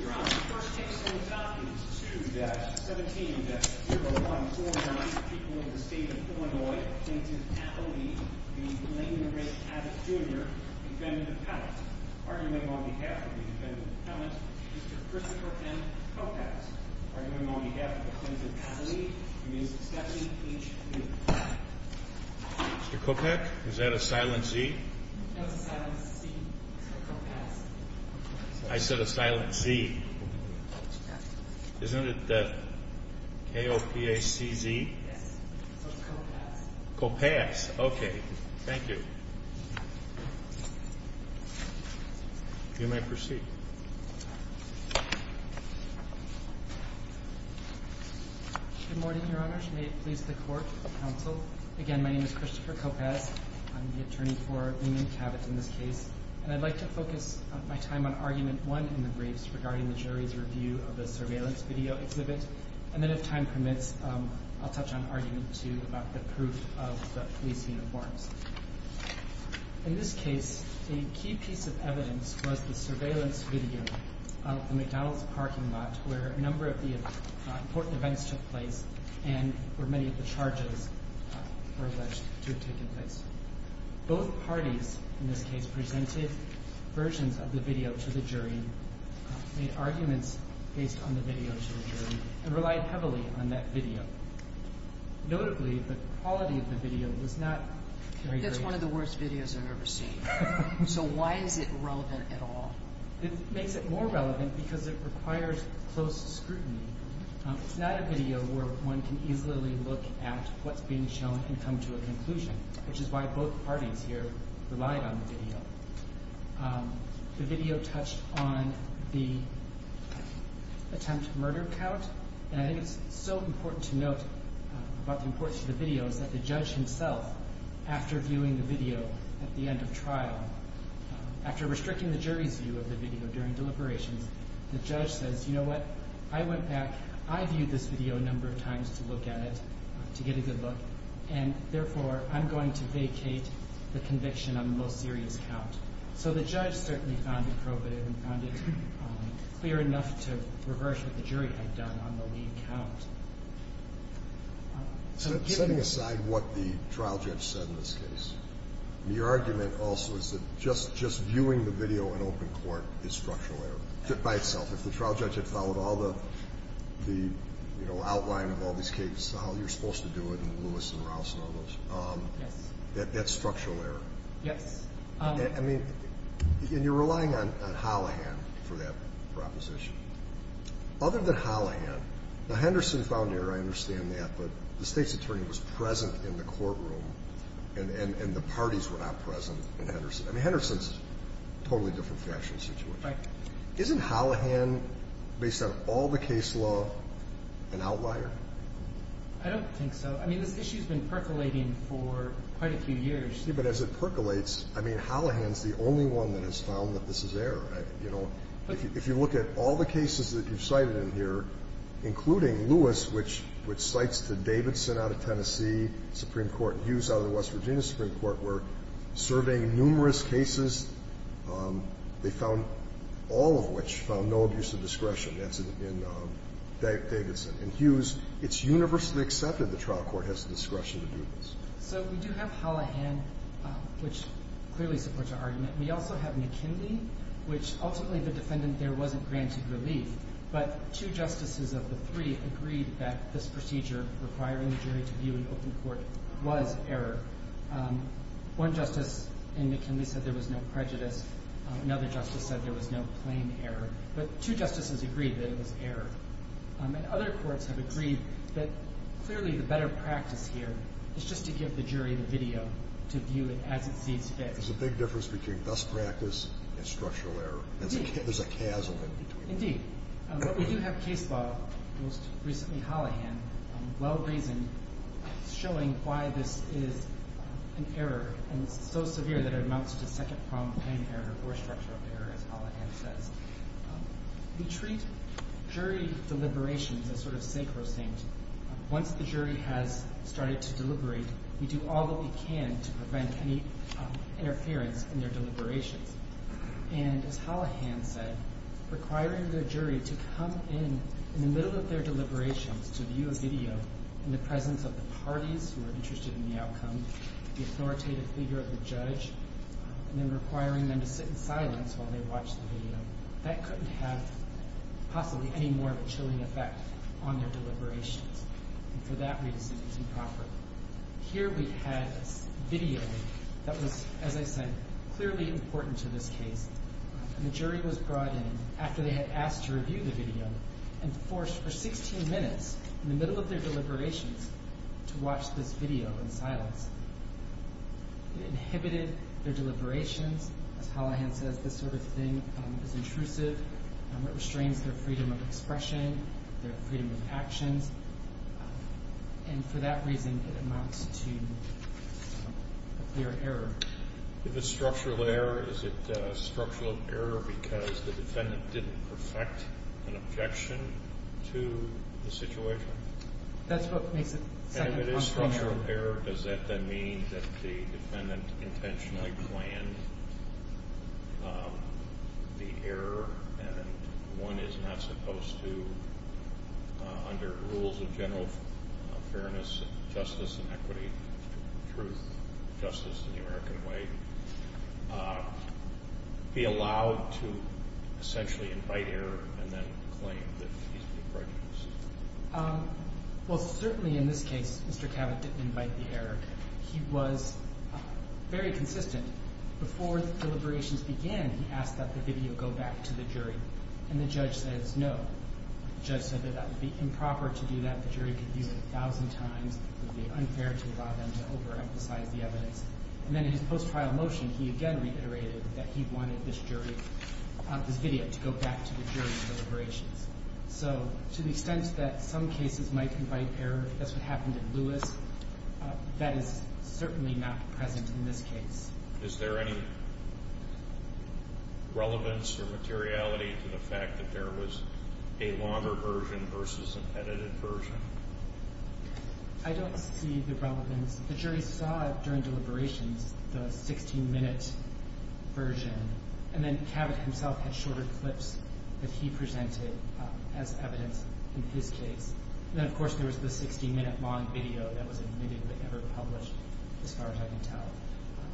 Your Honor, the first case on the topic is issued at 17-0149, People of the State of Illinois, Plaintiff Appellee v. Lane and Ray Cavitt Jr., Defendant Appellant. Argument on behalf of the Defendant Appellant, Mr. Christopher M. Kopacz. Argument on behalf of the Plaintiff Appellee, Ms. Stephanie H. Newman. Mr. Kopacz, is that a silent C? That's a silent C, Mr. Kopacz. I said a silent C. Isn't it the K-O-P-A-C-Z? Yes. Kopacz. Kopacz. Okay. Thank you. You may proceed. Good morning, Your Honor. May it please the Court and the Counsel. Again, my name is Christopher Kopacz. I'm the attorney for Newman and Cavitt in this case. And I'd like to focus my time on Argument 1 in the briefs regarding the jury's review of the surveillance video exhibit. And then if time permits, I'll touch on Argument 2 about the proof of the police uniforms. In this case, a key piece of evidence was the surveillance video of the McDonald's parking lot where a number of the important events took place and where many of the charges were alleged to have taken place. Both parties in this case presented versions of the video to the jury, made arguments based on the video to the jury, and relied heavily on that video. Notably, the quality of the video was not very great. That's one of the worst videos I've ever seen. So why is it relevant at all? It makes it more relevant because it requires close scrutiny. It's not a video where one can easily look at what's being shown and come to a conclusion, which is why both parties here relied on the video. The video touched on the attempt murder count. And I think it's so important to note about the importance of the video is that the judge himself, after viewing the video at the end of trial, after restricting the jury's view of the video during deliberations, the judge says, you know what, I went back, I viewed this video a number of times to look at it, to get a good look, and therefore I'm going to vacate the conviction on the most serious count. So the judge certainly found it appropriate and found it clear enough to reverse what the jury had done on the lead count. Setting aside what the trial judge said in this case, the argument also is that just viewing the video in open court is structural error by itself. If the trial judge had followed all the, you know, outline of all these cases, how you're supposed to do it, and Lewis and Rouse and all those, that's structural error. Yes. I mean, and you're relying on Hollahan for that proposition. Other than Hollahan, the Henderson found error, I understand that, but the state's attorney was present in the courtroom, and the parties were not present in Henderson. I mean, Henderson's a totally different fashion situation. Right. Isn't Hollahan, based on all the case law, an outlier? I don't think so. I mean, this issue's been percolating for quite a few years. Yeah, but as it percolates, I mean, Hollahan's the only one that has found that this is error. You know, if you look at all the cases that you've cited in here, including Lewis, which cites the Davidson out of Tennessee Supreme Court, Hughes out of the West Virginia Supreme Court were surveying numerous cases. They found all of which found no abuse of discretion. That's in Davidson. In Hughes, it's universally accepted the trial court has the discretion to do this. So we do have Hollahan, which clearly supports our argument. We also have McKinley, which ultimately the defendant there wasn't granted relief, but two justices of the three agreed that this procedure requiring the jury to view an open court was error. One justice in McKinley said there was no prejudice. Another justice said there was no plain error. But two justices agreed that it was error. And other courts have agreed that clearly the better practice here is just to give the jury the video to view it as it sees fit. There's a big difference between best practice and structural error. There's a chasm in between. Indeed. But we do have case law, most recently Hollahan, well-reasoned, showing why this is an error, and so severe that it amounts to second-pronged plain error or structural error, as Hollahan says. We treat jury deliberations as sort of sacrosanct. Once the jury has started to deliberate, we do all that we can to prevent any interference in their deliberations. And as Hollahan said, requiring the jury to come in in the middle of their deliberations to view a video in the presence of the parties who are interested in the outcome, the authoritative figure of the judge, and then requiring them to sit in silence while they watch the video, that couldn't have possibly any more of a chilling effect on their deliberations. And for that reason, it's improper. Here we had a video that was, as I said, clearly important to this case. And the jury was brought in after they had asked to review the video and forced for 16 minutes in the middle of their deliberations to watch this video in silence. It inhibited their deliberations. As Hollahan says, this sort of thing is intrusive. It restrains their freedom of expression, their freedom of actions. And for that reason, it amounts to a clear error. If it's structural error, is it structural error because the defendant didn't perfect an objection to the situation? That's what makes it second-pronged plain error. If it's structural error, does that then mean that the defendant intentionally planned the error and one is not supposed to, under rules of general fairness and justice and equity, truth, justice in the American way, be allowed to essentially invite error and then claim that he's been prejudiced? Well, certainly in this case, Mr. Cavett didn't invite the error. He was very consistent. Before the deliberations began, he asked that the video go back to the jury, and the judge says no. The judge said that that would be improper to do that. The jury could view it a thousand times. It would be unfair to allow them to overemphasize the evidence. And then in his post-trial motion, he again reiterated that he wanted this video to go back to the jury's deliberations. So to the extent that some cases might invite error, if that's what happened in Lewis, that is certainly not present in this case. Is there any relevance or materiality to the fact that there was a longer version versus an edited version? I don't see the relevance. The jury saw it during deliberations, the 16-minute version, and then Cavett himself had shorter clips that he presented as evidence in his case. And then, of course, there was the 16-minute long video that was admittedly never published, as far as I can tell.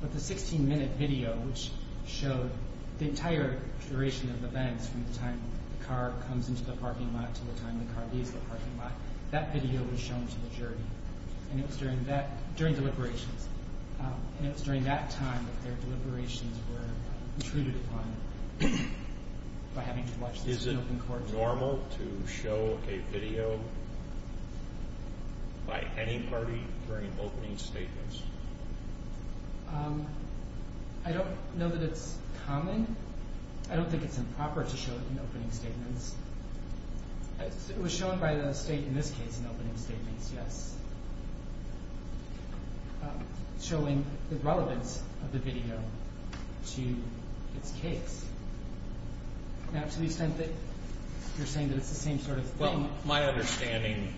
But the 16-minute video, which showed the entire duration of events from the time the car comes into the parking lot to the time the car leaves the parking lot, that video was shown to the jury, and it was during deliberations. And it was during that time that their deliberations were intruded upon by having to watch this in open court. Is it normal to show a video by any party during opening statements? I don't know that it's common. I don't think it's improper to show it in opening statements. It was shown by the state in this case in opening statements, yes, showing the relevance of the video to its case. Now, to the extent that you're saying that it's the same sort of thing. Well, my understanding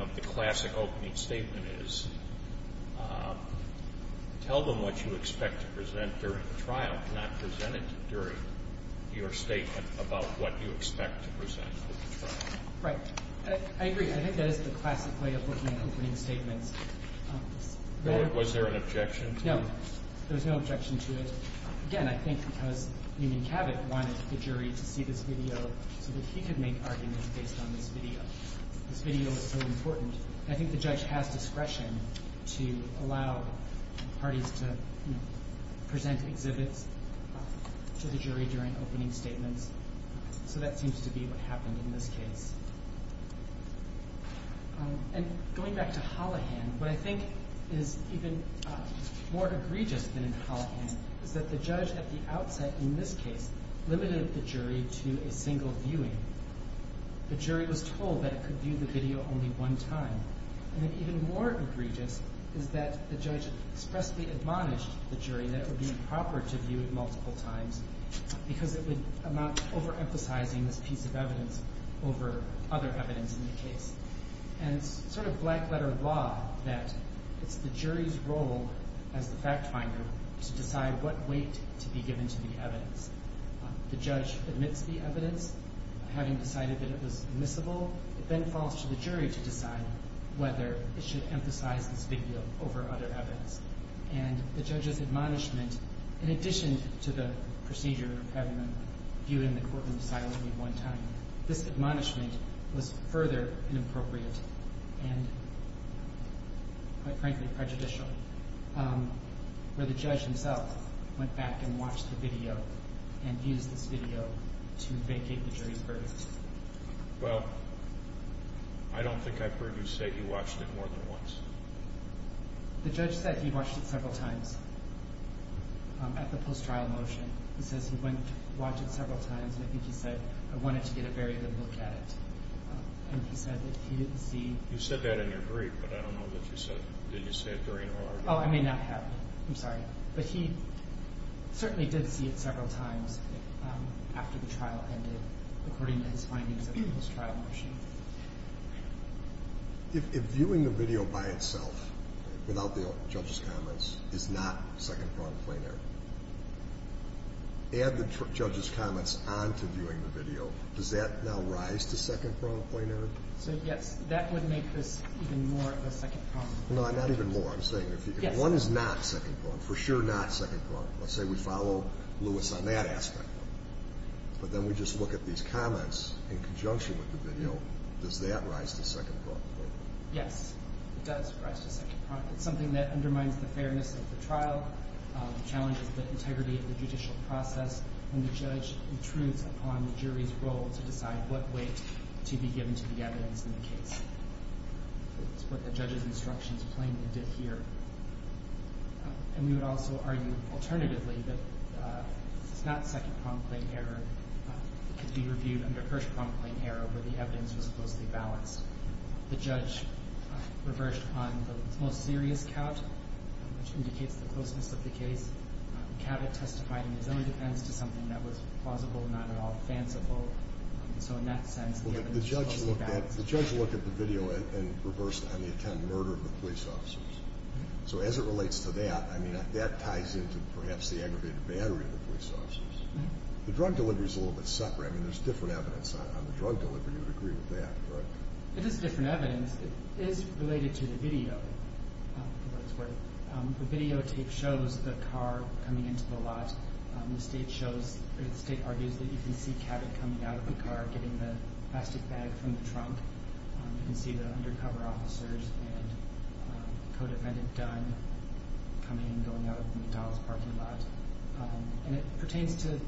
of the classic opening statement is, tell them what you expect to present during the trial, not present it during your statement about what you expect to present for the trial. Right. I agree. I think that is the classic way of looking at opening statements. Was there an objection to it? No. There was no objection to it. Again, I think because Union Cabot wanted the jury to see this video so that he could make arguments based on this video. This video is so important. I think the judge has discretion to allow parties to present exhibits to the jury during opening statements. So that seems to be what happened in this case. And going back to Hollihan, what I think is even more egregious than in Hollihan is that the judge at the outset in this case limited the jury to a single viewing. The jury was told that it could view the video only one time. And even more egregious is that the judge expressly admonished the jury that it would be improper to view it multiple times because it would amount to overemphasizing this piece of evidence over other evidence in the case. And it's sort of black-letter law that it's the jury's role as the fact-finder to decide what weight to be given to the evidence. The judge admits the evidence. Having decided that it was admissible, it then falls to the jury to decide whether it should emphasize this video over other evidence. And the judge's admonishment, in addition to the procedure of having them view it in the courtroom silently one time, this admonishment was further inappropriate and, quite frankly, prejudicial. Where the judge himself went back and watched the video and used this video to vacate the jury's verdict. Well, I don't think I've heard you say he watched it more than once. The judge said he watched it several times at the post-trial motion. He says he went and watched it several times, and I think he said, I wanted to get a very good look at it. And he said that he didn't see... You said that in your brief, but I don't know that you said, did you say it during or after? Oh, I may not have. I'm sorry. But he certainly did see it several times after the trial ended, according to his findings at the post-trial motion. If viewing the video by itself, without the judge's comments, is not second-pronged plenary, add the judge's comments on to viewing the video, does that now rise to second-pronged plenary? So, yes, that would make this even more of a second-pronged plenary. No, not even more. I'm saying if one is not second-pronged, for sure not second-pronged, let's say we follow Lewis on that aspect, but then we just look at these comments in conjunction with the video, does that rise to second-pronged plenary? Yes, it does rise to second-pronged. It's something that undermines the fairness of the trial, challenges the integrity of the judicial process, and the judge intrudes upon the jury's role to decide what weight to be given to the evidence in the case. It's what the judge's instructions plainly did here. And we would also argue, alternatively, that it's not second-pronged plenary. It could be reviewed under first-pronged plenary, where the evidence was closely balanced. The judge reversed upon the most serious count, which indicates the closeness of the case. Cavett testified in his own defense to something that was plausible, not at all fanciful. So in that sense, the evidence was closely balanced. The judge looked at the video and reversed on the attempted murder of the police officers. So as it relates to that, I mean, that ties into perhaps the aggravated battery of the police officers. The drug delivery is a little bit separate. I mean, there's different evidence on the drug delivery. You would agree with that, correct? It is different evidence. It is related to the video. The videotape shows the car coming into the lot. The state argues that you can see Cavett coming out of the car, getting the plastic bag from the trunk. You can see the undercover officers and the co-defendant, Dunn, coming and going out of McDonald's parking lot. And it pertains to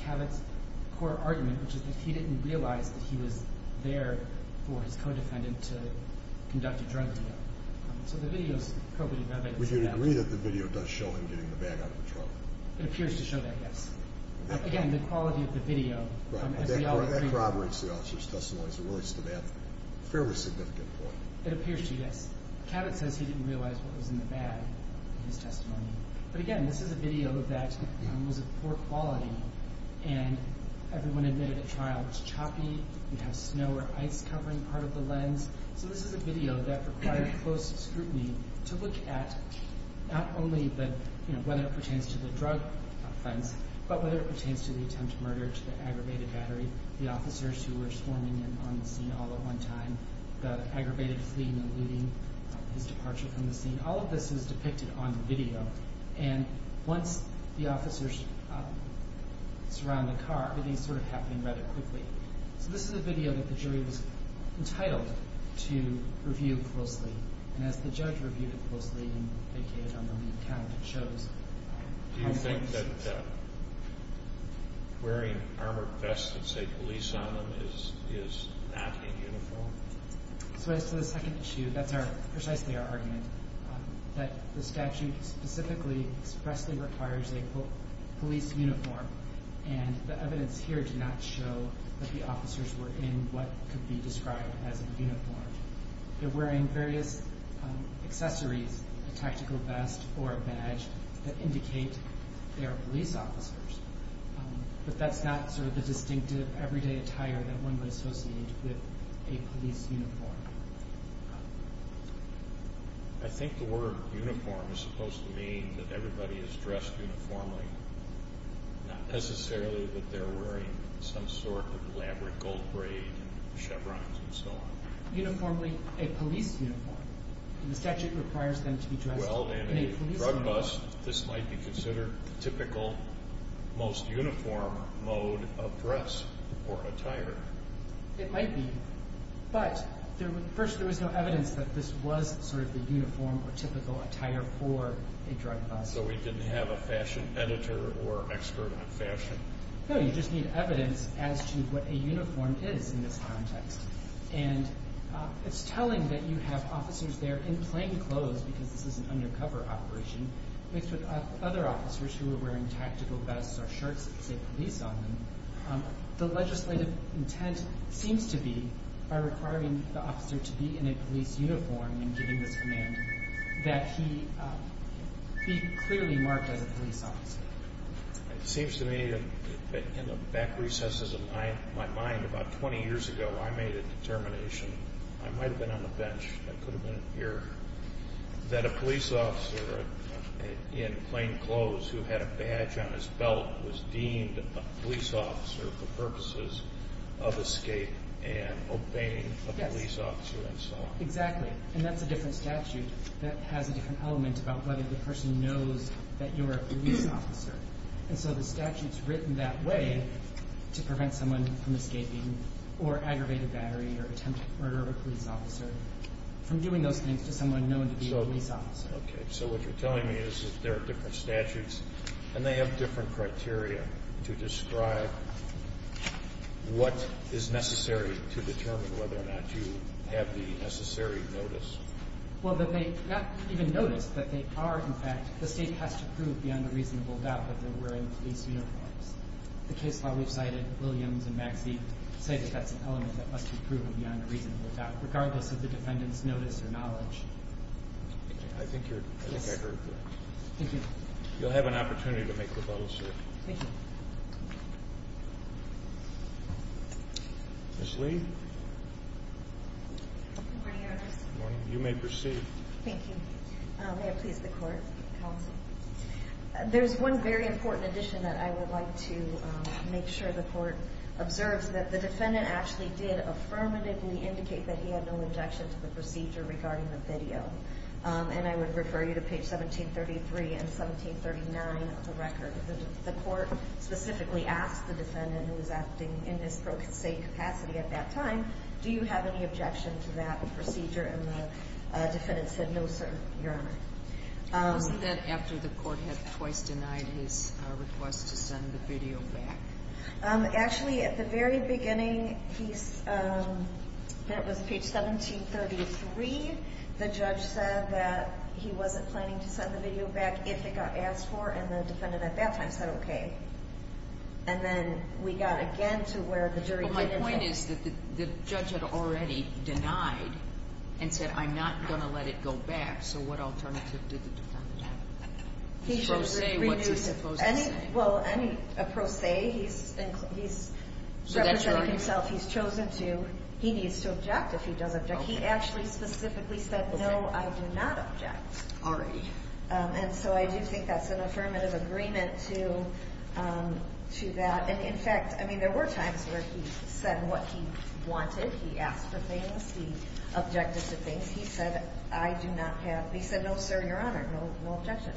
Cavett's core argument, which is that he didn't realize that he was there for his co-defendant to conduct a drug deal. So the video is probably relevant to that. Would you agree that the video does show him getting the bag out of the trunk? It appears to show that, yes. Again, the quality of the video, as we all agree. That corroborates the officer's testimony as it relates to that fairly significant point. It appears to, yes. Cavett says he didn't realize what was in the bag in his testimony. But again, this is a video that was of poor quality. And everyone admitted at trial it was choppy. You have snow or ice covering part of the lens. So this is a video that required close scrutiny to look at not only whether it pertains to the drug offense, but whether it pertains to the attempt to murder, to the aggravated battery, the officers who were swarming in on the scene all at one time, the aggravated fleeing and leaving, his departure from the scene. All of this is depicted on the video. And once the officers surround the car, everything is sort of happening rather quickly. So this is a video that the jury was entitled to review closely. And as the judge reviewed it closely and vacated on the lead count, it shows. Do you think that wearing armored vests that say police on them is not in uniform? So as to the second issue, that's precisely our argument, that the statute specifically expressly requires a police uniform. And the evidence here did not show that the officers were in what could be described as a uniform. They're wearing various accessories, a tactical vest or a badge, that indicate they are police officers. But that's not sort of the distinctive everyday attire that one would associate with a police uniform. I think the word uniform is supposed to mean that everybody is dressed uniformly, not necessarily that they're wearing some sort of elaborate gold braid and chevrons and so on. Uniformly a police uniform. The statute requires them to be dressed in a police uniform. In a drug bus, this might be considered the typical, most uniform mode of dress or attire. It might be. But first, there was no evidence that this was sort of the uniform or typical attire for a drug bus. So we didn't have a fashion editor or an expert on fashion? No, you just need evidence as to what a uniform is in this context. And it's telling that you have officers there in plain clothes, because this is an undercover operation, mixed with other officers who are wearing tactical vests or shirts that say police on them. The legislative intent seems to be, by requiring the officer to be in a police uniform and giving this command, that he be clearly marked as a police officer. It seems to me, in the back recesses of my mind, about 20 years ago, I made a determination. I might have been on the bench. I could have been here. That a police officer in plain clothes who had a badge on his belt was deemed a police officer for purposes of escape and obeying a police officer and so on. Yes, exactly. And that's a different statute. That has a different element about whether the person knows that you're a police officer. And so the statute's written that way to prevent someone from escaping or aggravated battery or attempted murder of a police officer from doing those things to someone known to be a police officer. Okay. So what you're telling me is that there are different statutes, and they have different criteria to describe what is necessary to determine whether or not you have the necessary notice. Well, they're not even notice, but they are, in fact, the state has to prove beyond a reasonable doubt that they're wearing police uniforms. The case law we've cited, Williams and Maxey, say that that's an element that must be proven beyond a reasonable doubt, regardless of the defendant's notice or knowledge. I think I heard that. Thank you. You'll have an opportunity to make a rebuttal, sir. Thank you. Ms. Lee? Good morning, Your Honor. Good morning. You may proceed. Thank you. May it please the Court, counsel. There's one very important addition that I would like to make sure the Court observes, that the defendant actually did affirmatively indicate that he had no objection to the procedure regarding the video. And I would refer you to page 1733 and 1739 of the record. The Court specifically asked the defendant, who was acting in his pro case capacity at that time, do you have any objection to that procedure? And the defendant said, no, sir, Your Honor. Wasn't that after the Court had twice denied his request to send the video back? Actually, at the very beginning, that was page 1733, the judge said that he wasn't planning to send the video back if it got asked for, and the defendant at that time said, okay. And then we got again to where the jury did. My point is that the judge had already denied and said, I'm not going to let it go back. So what alternative did the defendant have? His pro se, what's he supposed to say? Well, any pro se, he's representing himself. He's chosen to. He needs to object if he does object. He actually specifically said, no, I do not object. Already. And so I do think that's an affirmative agreement to that. And, in fact, I mean, there were times where he said what he wanted. He asked for things. He objected to things. He said, I do not have. He said, no, sir, Your Honor, no objection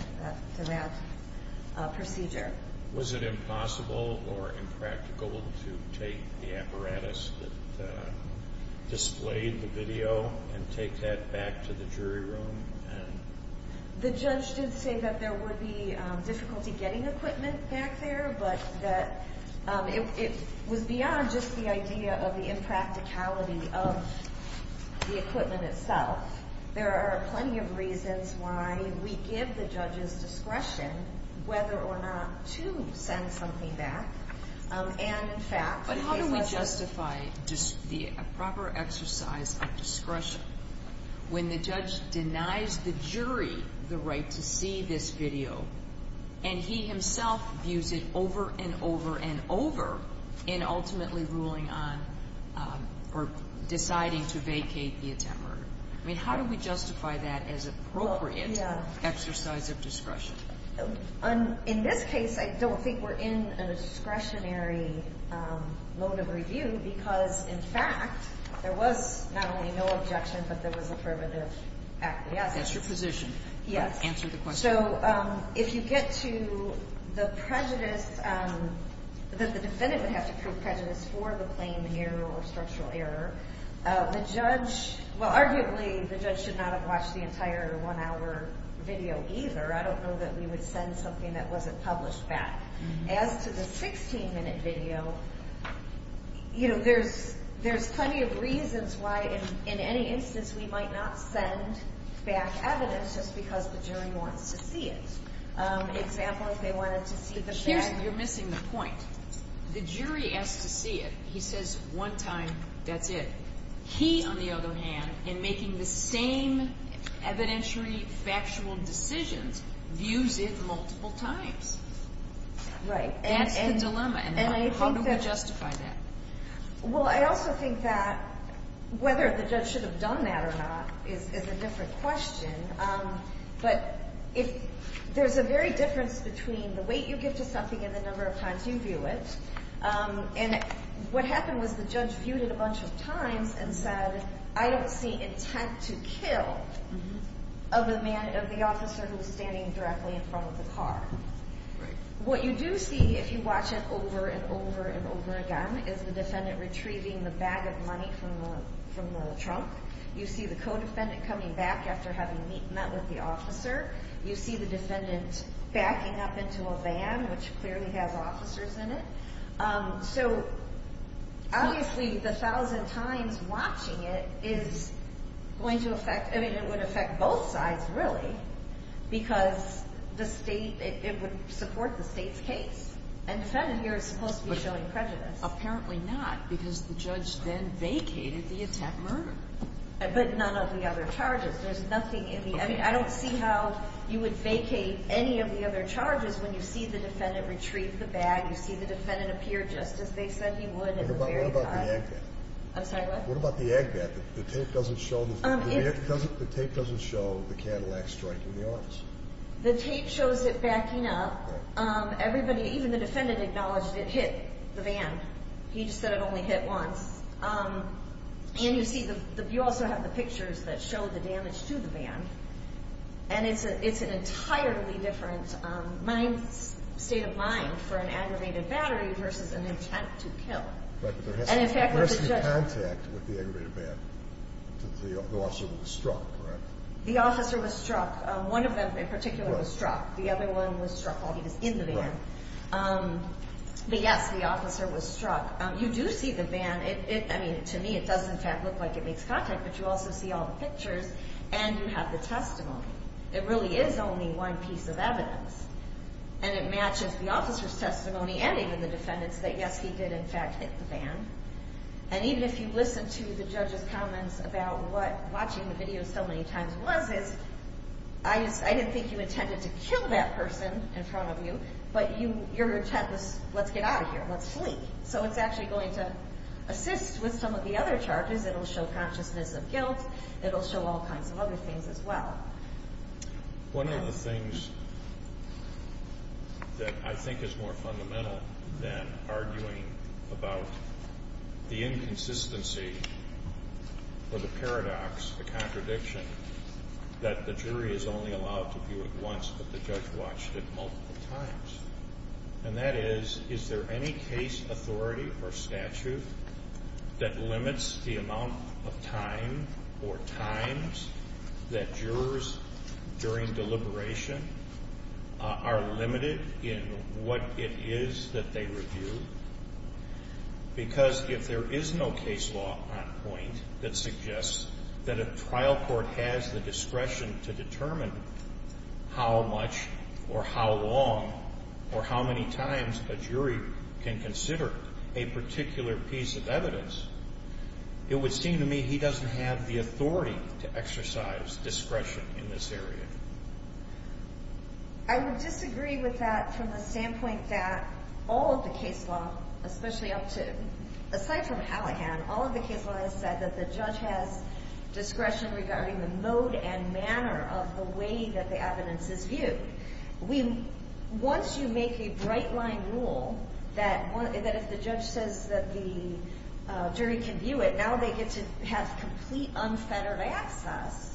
to that procedure. Was it impossible or impractical to take the apparatus that displayed the video and take that back to the jury room? The judge did say that there would be difficulty getting equipment back there, but that it was beyond just the idea of the impracticality of the equipment itself. There are plenty of reasons why we give the judge's discretion whether or not to send something back. And, in fact, the case was justified. But how do we justify the proper exercise of discretion when the judge denies the jury the right to see this video and he himself views it over and over and over in ultimately ruling on or deciding to vacate the attempt murder? I mean, how do we justify that as appropriate exercise of discretion? In this case, I don't think we're in a discretionary mode of review because, in fact, there was not only no objection, but there was affirmative action. That's your position. Yes. Answer the question. So if you get to the prejudice that the defendant would have to prove prejudice for the claim in error or structural error, the judge, well, arguably the judge should not have watched the entire one-hour video either. I don't know that we would send something that wasn't published back. As to the 16-minute video, you know, there's plenty of reasons why, in any instance, we might not send back evidence just because the jury wants to see it. Example, if they wanted to see the fact. You're missing the point. The jury has to see it. He says one time, that's it. He, on the other hand, in making the same evidentiary factual decisions, views it multiple times. Right. That's the dilemma. And how do we justify that? Well, I also think that whether the judge should have done that or not is a different question. But there's a very difference between the weight you give to something and the number of times you view it. And what happened was the judge viewed it a bunch of times and said, I don't see intent to kill of the officer who was standing directly in front of the car. What you do see, if you watch it over and over and over again, is the defendant retrieving the bag of money from the trunk. You see the co-defendant coming back after having met with the officer. You see the defendant backing up into a van, which clearly has officers in it. So, obviously, the thousand times watching it is going to affect – because the state – it would support the state's case. And the defendant here is supposed to be showing prejudice. Apparently not, because the judge then vacated the attack murder. But none of the other charges. There's nothing in the – I mean, I don't see how you would vacate any of the other charges when you see the defendant retrieve the bag. You see the defendant appear just as they said he would at the very time. What about the ag bat? I'm sorry, what? What about the ag bat? The tape doesn't show the Cadillac striking the officer. The tape shows it backing up. Everybody – even the defendant acknowledged it hit the van. He just said it only hit once. And you see – you also have the pictures that show the damage to the van. And it's an entirely different mind – state of mind for an aggravated battery versus an intent to kill. But there has to be contact with the aggravated van. The officer was struck, correct? The officer was struck. One of them in particular was struck. The other one was struck while he was in the van. But, yes, the officer was struck. You do see the van. I mean, to me it does in fact look like it makes contact, but you also see all the pictures and you have the testimony. It really is only one piece of evidence. And it matches the officer's testimony and even the defendant's that, yes, he did in fact hit the van. And even if you listen to the judge's comments about what watching the video so many times was, I didn't think you intended to kill that person in front of you, but your intent was, let's get out of here, let's flee. So it's actually going to assist with some of the other charges. It will show consciousness of guilt. It will show all kinds of other things as well. One of the things that I think is more fundamental than arguing about the inconsistency or the paradox, the contradiction, that the jury is only allowed to view it once but the judge watched it multiple times. And that is, is there any case, authority, or statute that limits the amount of time or times that jurors, during deliberation, are limited in what it is that they review? Because if there is no case law on point that suggests that a trial court has the discretion to determine how much or how long or how many times a jury can consider a particular piece of evidence, it would seem to me he doesn't have the authority to exercise discretion in this area. I would disagree with that from the standpoint that all of the case law, especially up to, aside from Allahan, all of the case law has said that the judge has discretion regarding the mode and manner of the way that the evidence is viewed. Once you make a bright line rule that if the judge says that the jury can view it, now they get to have complete unfettered access,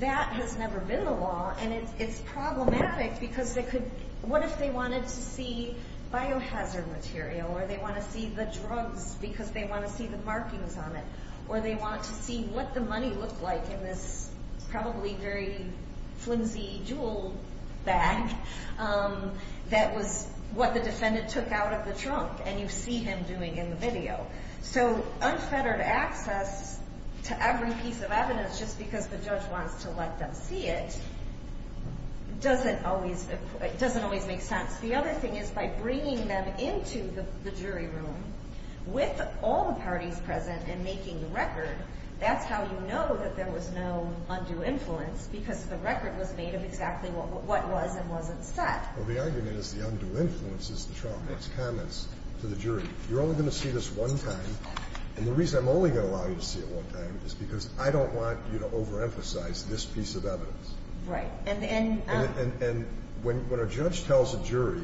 that has never been the law. And it's problematic because they could, what if they wanted to see biohazard material or they want to see the drugs because they want to see the markings on it or they want to see what the money looked like in this probably very flimsy jewel bag that was what the defendant took out of the trunk and you see him doing in the video. So unfettered access to every piece of evidence just because the judge wants to let them see it doesn't always make sense. The other thing is by bringing them into the jury room with all the parties present and making the record, that's how you know that there was no undue influence because the record was made of exactly what was and wasn't said. Well, the argument is the undue influence is the trunk. It's comments to the jury. You're only going to see this one time, and the reason I'm only going to allow you to see it one time is because I don't want you to overemphasize this piece of evidence. Right. And when a judge tells a jury,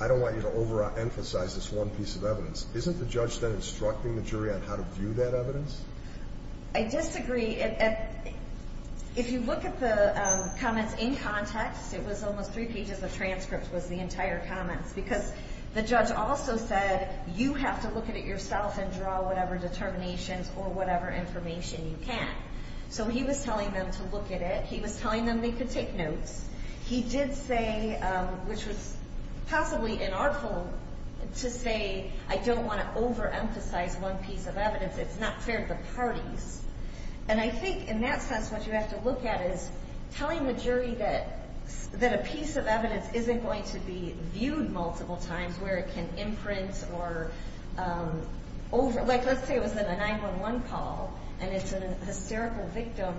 I don't want you to overemphasize this one piece of evidence, isn't the judge then instructing the jury on how to view that evidence? I disagree. If you look at the comments in context, it was almost three pages of transcripts was the entire comments because the judge also said you have to look at it yourself and draw whatever determinations or whatever information you can. So he was telling them to look at it. He was telling them they could take notes. He did say, which was possibly inartful, to say I don't want to overemphasize one piece of evidence. It's not fair to the parties. And I think in that sense what you have to look at is telling the jury that a piece of evidence isn't going to be viewed multiple times where it can imprint or over. Like let's say it was in a 911 call, and it's a hysterical victim.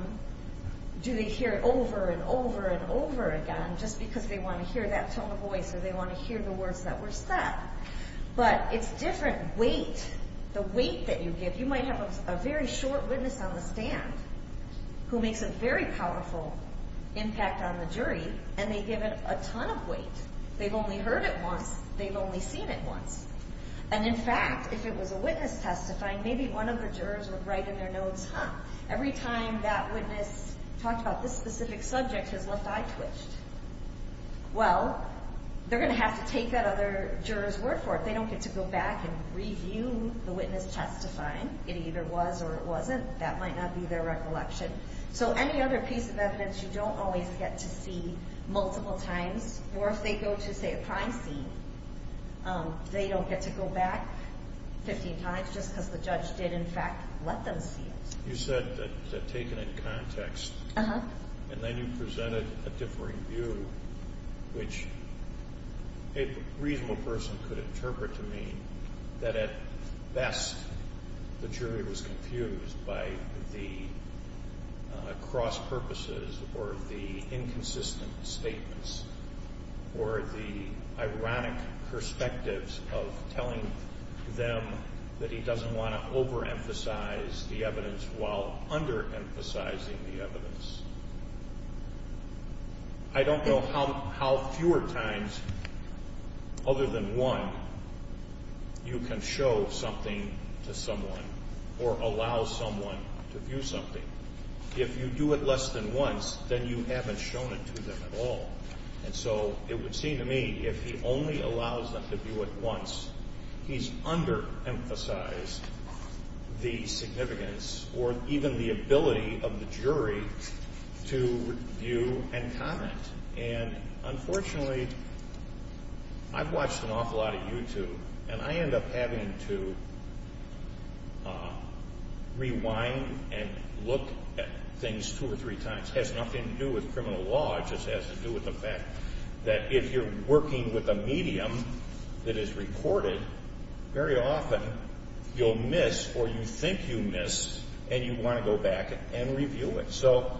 Do they hear it over and over and over again just because they want to hear that tone of voice or they want to hear the words that were said? But it's different weight, the weight that you give. You might have a very short witness on the stand who makes a very powerful impact on the jury, and they give it a ton of weight. They've only heard it once. They've only seen it once. And, in fact, if it was a witness testifying, maybe one of the jurors would write in their notes, huh, every time that witness talked about this specific subject has left eye twitched. Well, they're going to have to take that other juror's word for it. They don't get to go back and review the witness testifying. It either was or it wasn't. That might not be their recollection. So any other piece of evidence you don't always get to see multiple times, or if they go to, say, a crime scene, they don't get to go back 15 times just because the judge did, in fact, let them see it. You said that taken in context, and then you presented a differing view, which a reasonable person could interpret to mean that, at best, the jury was confused by the cross purposes or the inconsistent statements or the ironic perspectives of telling them that he doesn't want to overemphasize the evidence while underemphasizing the evidence. I don't know how fewer times, other than one, you can show something to someone or allow someone to view something. If you do it less than once, then you haven't shown it to them at all. And so it would seem to me if he only allows them to view it once, he's underemphasized the significance or even the ability of the jury to view and comment. And unfortunately, I've watched an awful lot of YouTube, and I end up having to rewind and look at things two or three times. It has nothing to do with criminal law. It just has to do with the fact that if you're working with a medium that is recorded, very often you'll miss or you think you missed and you want to go back and review it. So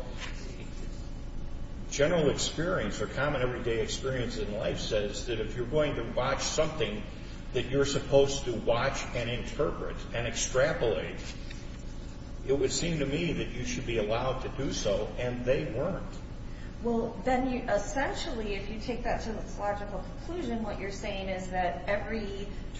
general experience or common everyday experience in life says that if you're going to watch something that you're supposed to watch and interpret and extrapolate, it would seem to me that you should be allowed to do so, and they weren't. Well, then essentially, if you take that to its logical conclusion, what you're saying is that every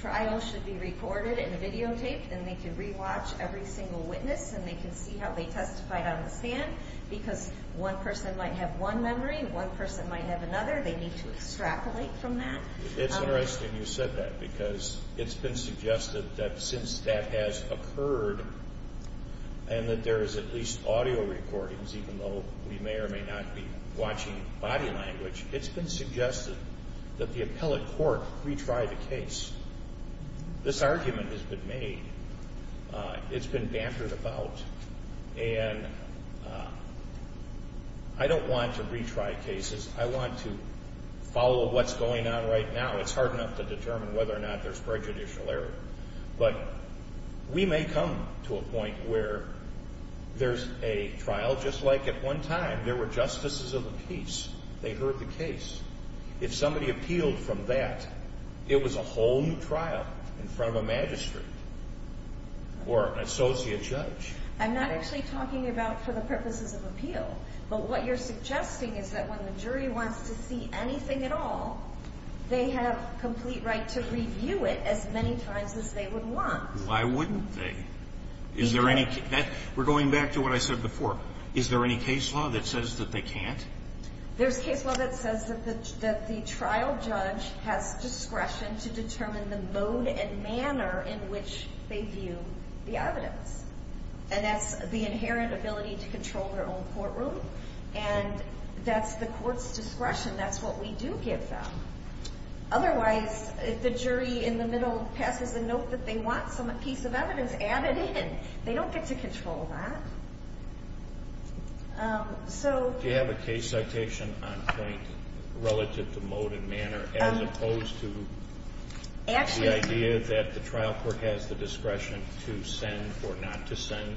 trial should be recorded and videotaped and they can rewatch every single witness and they can see how they testified on the stand because one person might have one memory and one person might have another. They need to extrapolate from that. It's interesting you said that because it's been suggested that since that has occurred and that there is at least audio recordings, even though we may or may not be watching body language, it's been suggested that the appellate court retry the case. This argument has been made. It's been bantered about. And I don't want to retry cases. I want to follow what's going on right now. It's hard enough to determine whether or not there's prejudicial error, but we may come to a point where there's a trial just like at one time. There were justices of the peace. They heard the case. If somebody appealed from that, it was a whole new trial in front of a magistrate or an associate judge. I'm not actually talking about for the purposes of appeal, but what you're suggesting is that when the jury wants to see anything at all, they have complete right to review it as many times as they would want. Why wouldn't they? Is there any case? We're going back to what I said before. Is there any case law that says that they can't? There's case law that says that the trial judge has discretion to determine the mode and manner in which they view the evidence. That's the inherent ability to control their own courtroom. That's the court's discretion. That's what we do give them. Otherwise, if the jury in the middle passes a note that they want some piece of evidence added in, they don't get to control that. Do you have a case citation on point relative to mode and manner, as opposed to the idea that the trial court has the discretion to send or not to send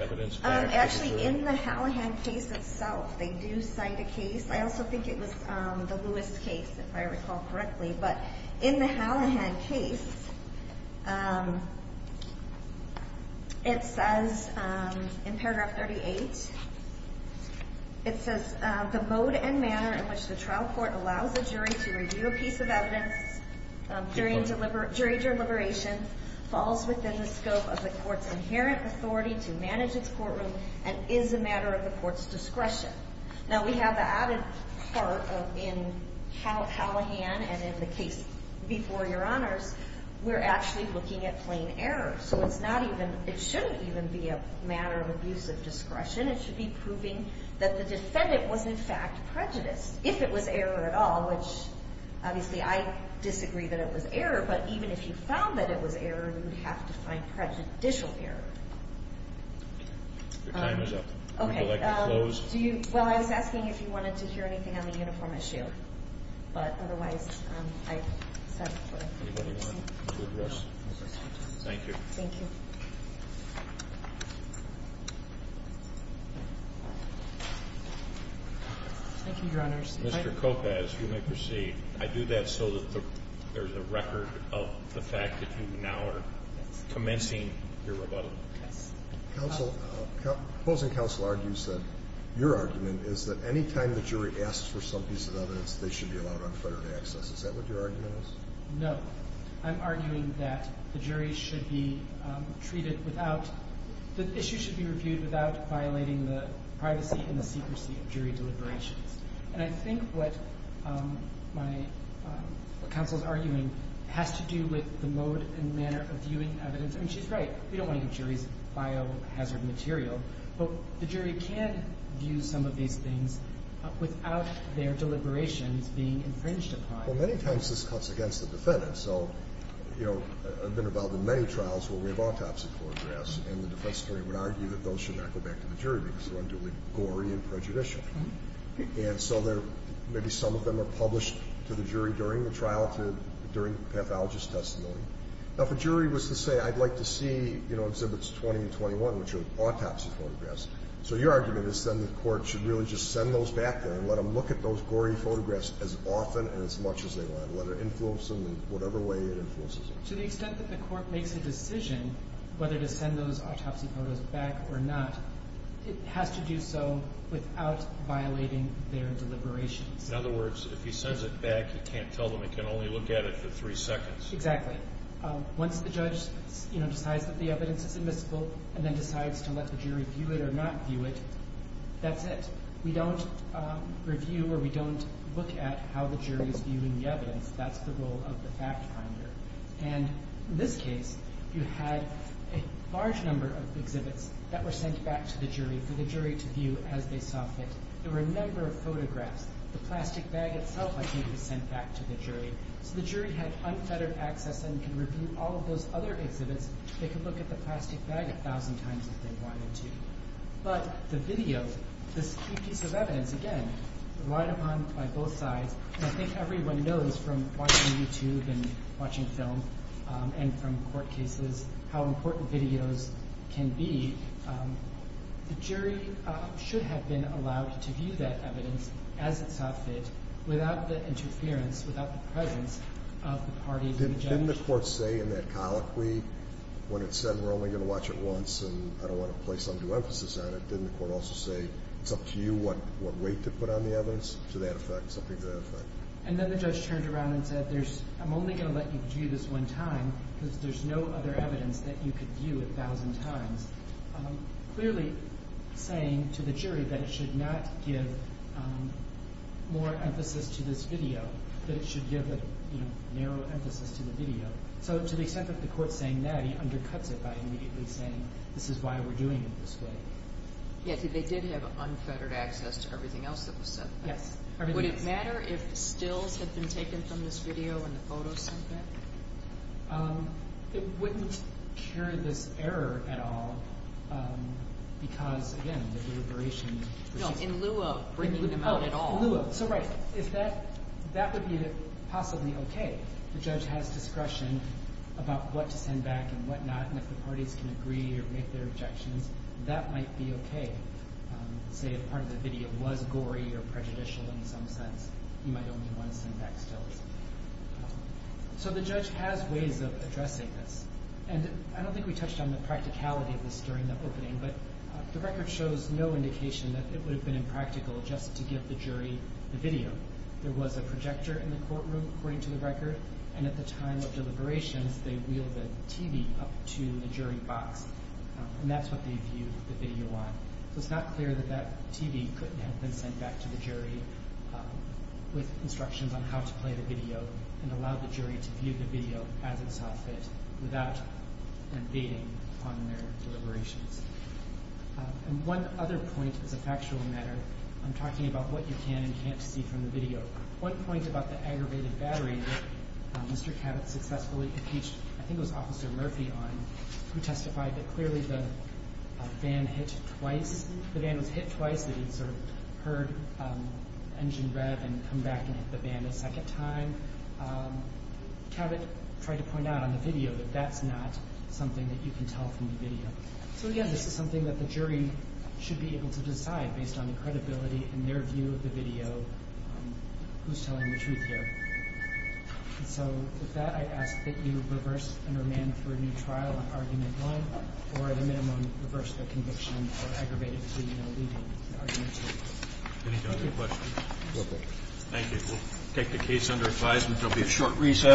evidence back? Actually, in the Hallahan case itself, they do cite a case. I also think it was the Lewis case, if I recall correctly. But in the Hallahan case, it says in paragraph 38, it says, the mode and manner in which the trial court allows the jury to review a piece of evidence during jury deliberation falls within the scope of the court's inherent authority to manage its courtroom and is a matter of the court's discretion. Now, we have the added part in Hallahan and in the case before Your Honors, we're actually looking at plain error. So it shouldn't even be a matter of abuse of discretion. It should be proving that the defendant was in fact prejudiced, if it was error at all, which obviously I disagree that it was error. But even if you found that it was error, you would have to find prejudicial error. Your time is up. Would you like me to close? Well, I was asking if you wanted to hear anything on the uniform issue. But otherwise, I've said what I wanted to say. Thank you. Thank you. Thank you, Your Honors. Mr. Kopecz, you may proceed. I do that so that there's a record of the fact that you now are commencing your rebuttal. Counsel, opposing counsel argues that your argument is that any time the jury asks for some piece of evidence, they should be allowed unfettered access. Is that what your argument is? No. I'm arguing that the jury should be treated without the issue should be reviewed without violating the privacy and the secrecy of jury deliberations. And I think what my counsel is arguing has to do with the mode and manner of viewing evidence. And she's right. We don't want to give juries biohazard material. But the jury can view some of these things without their deliberations being infringed upon. Well, many times this cuts against the defendant. So, you know, I've been involved in many trials where we have autopsy photographs, and the defense attorney would argue that those should not go back to the jury because they're unduly gory and prejudicial. And so maybe some of them are published to the jury during the trial, during the pathologist's testimony. Now, if a jury was to say, I'd like to see, you know, Exhibits 20 and 21, which are autopsy photographs, so your argument is then the court should really just send those back there and let them look at those gory photographs as often and as much as they want. Let it influence them in whatever way it influences them. To the extent that the court makes a decision whether to send those autopsy photos back or not, it has to do so without violating their deliberations. In other words, if he sends it back, you can't tell them. It can only look at it for three seconds. Exactly. Once the judge, you know, decides that the evidence is admissible and then decides to let the jury view it or not view it, that's it. We don't review or we don't look at how the jury is viewing the evidence. That's the role of the fact finder. And in this case, you had a large number of exhibits that were sent back to the jury for the jury to view as they saw fit. There were a number of photographs. The plastic bag itself, I think, was sent back to the jury. So the jury had unfettered access and could review all of those other exhibits. They could look at the plastic bag a thousand times if they wanted to. But the video, this key piece of evidence, again, relied upon by both sides. And I think everyone knows from watching YouTube and watching film and from court cases how important videos can be. The jury should have been allowed to view that evidence as it saw fit without the interference, without the presence of the parties and the judge. Didn't the court say in that colloquy when it said we're only going to watch it to give you emphasis on it, didn't the court also say it's up to you what weight to put on the evidence? To that effect, something to that effect. And then the judge turned around and said I'm only going to let you view this one time because there's no other evidence that you could view a thousand times. Clearly saying to the jury that it should not give more emphasis to this video, that it should give a narrow emphasis to the video. So to the extent that the court's saying that, he undercuts it by immediately saying this is why we're doing it this way. Yes, they did have unfettered access to everything else that was said. Yes. Would it matter if stills had been taken from this video and the photos sent back? It wouldn't carry this error at all because, again, the deliberation. No, in lieu of bringing them out at all. Oh, in lieu of. So, right. That would be possibly okay. The judge has discretion about what to send back and what not. And if the parties can agree or make their objections, that might be okay. Say if part of the video was gory or prejudicial in some sense, you might only want to send back stills. So the judge has ways of addressing this. And I don't think we touched on the practicality of this during the opening, but the record shows no indication that it would have been impractical just to give the jury the video. There was a projector in the courtroom, according to the record, and at the time of deliberations they wheeled the TV up to the jury box, and that's what they viewed the video on. So it's not clear that that TV couldn't have been sent back to the jury with instructions on how to play the video and allow the jury to view the video as it saw fit without invading on their deliberations. And one other point as a factual matter, I'm talking about what you can and can't see from the video. One point about the aggravated battery, Mr. Cabot successfully impeached, I think it was Officer Murphy on, who testified that clearly the van hit twice, the van was hit twice that he sort of heard engine rev and come back and hit the van a second time. Cabot tried to point out on the video that that's not something that you can tell from the video. So, again, this is something that the jury should be able to decide based on the who's telling the truth here. And so with that, I ask that you reverse and remand for a new trial on argument one, or at a minimum reverse the conviction for aggravated to, you know, leaving argument two. Any other questions? Thank you. We'll take the case under advisement. There'll be a short recess.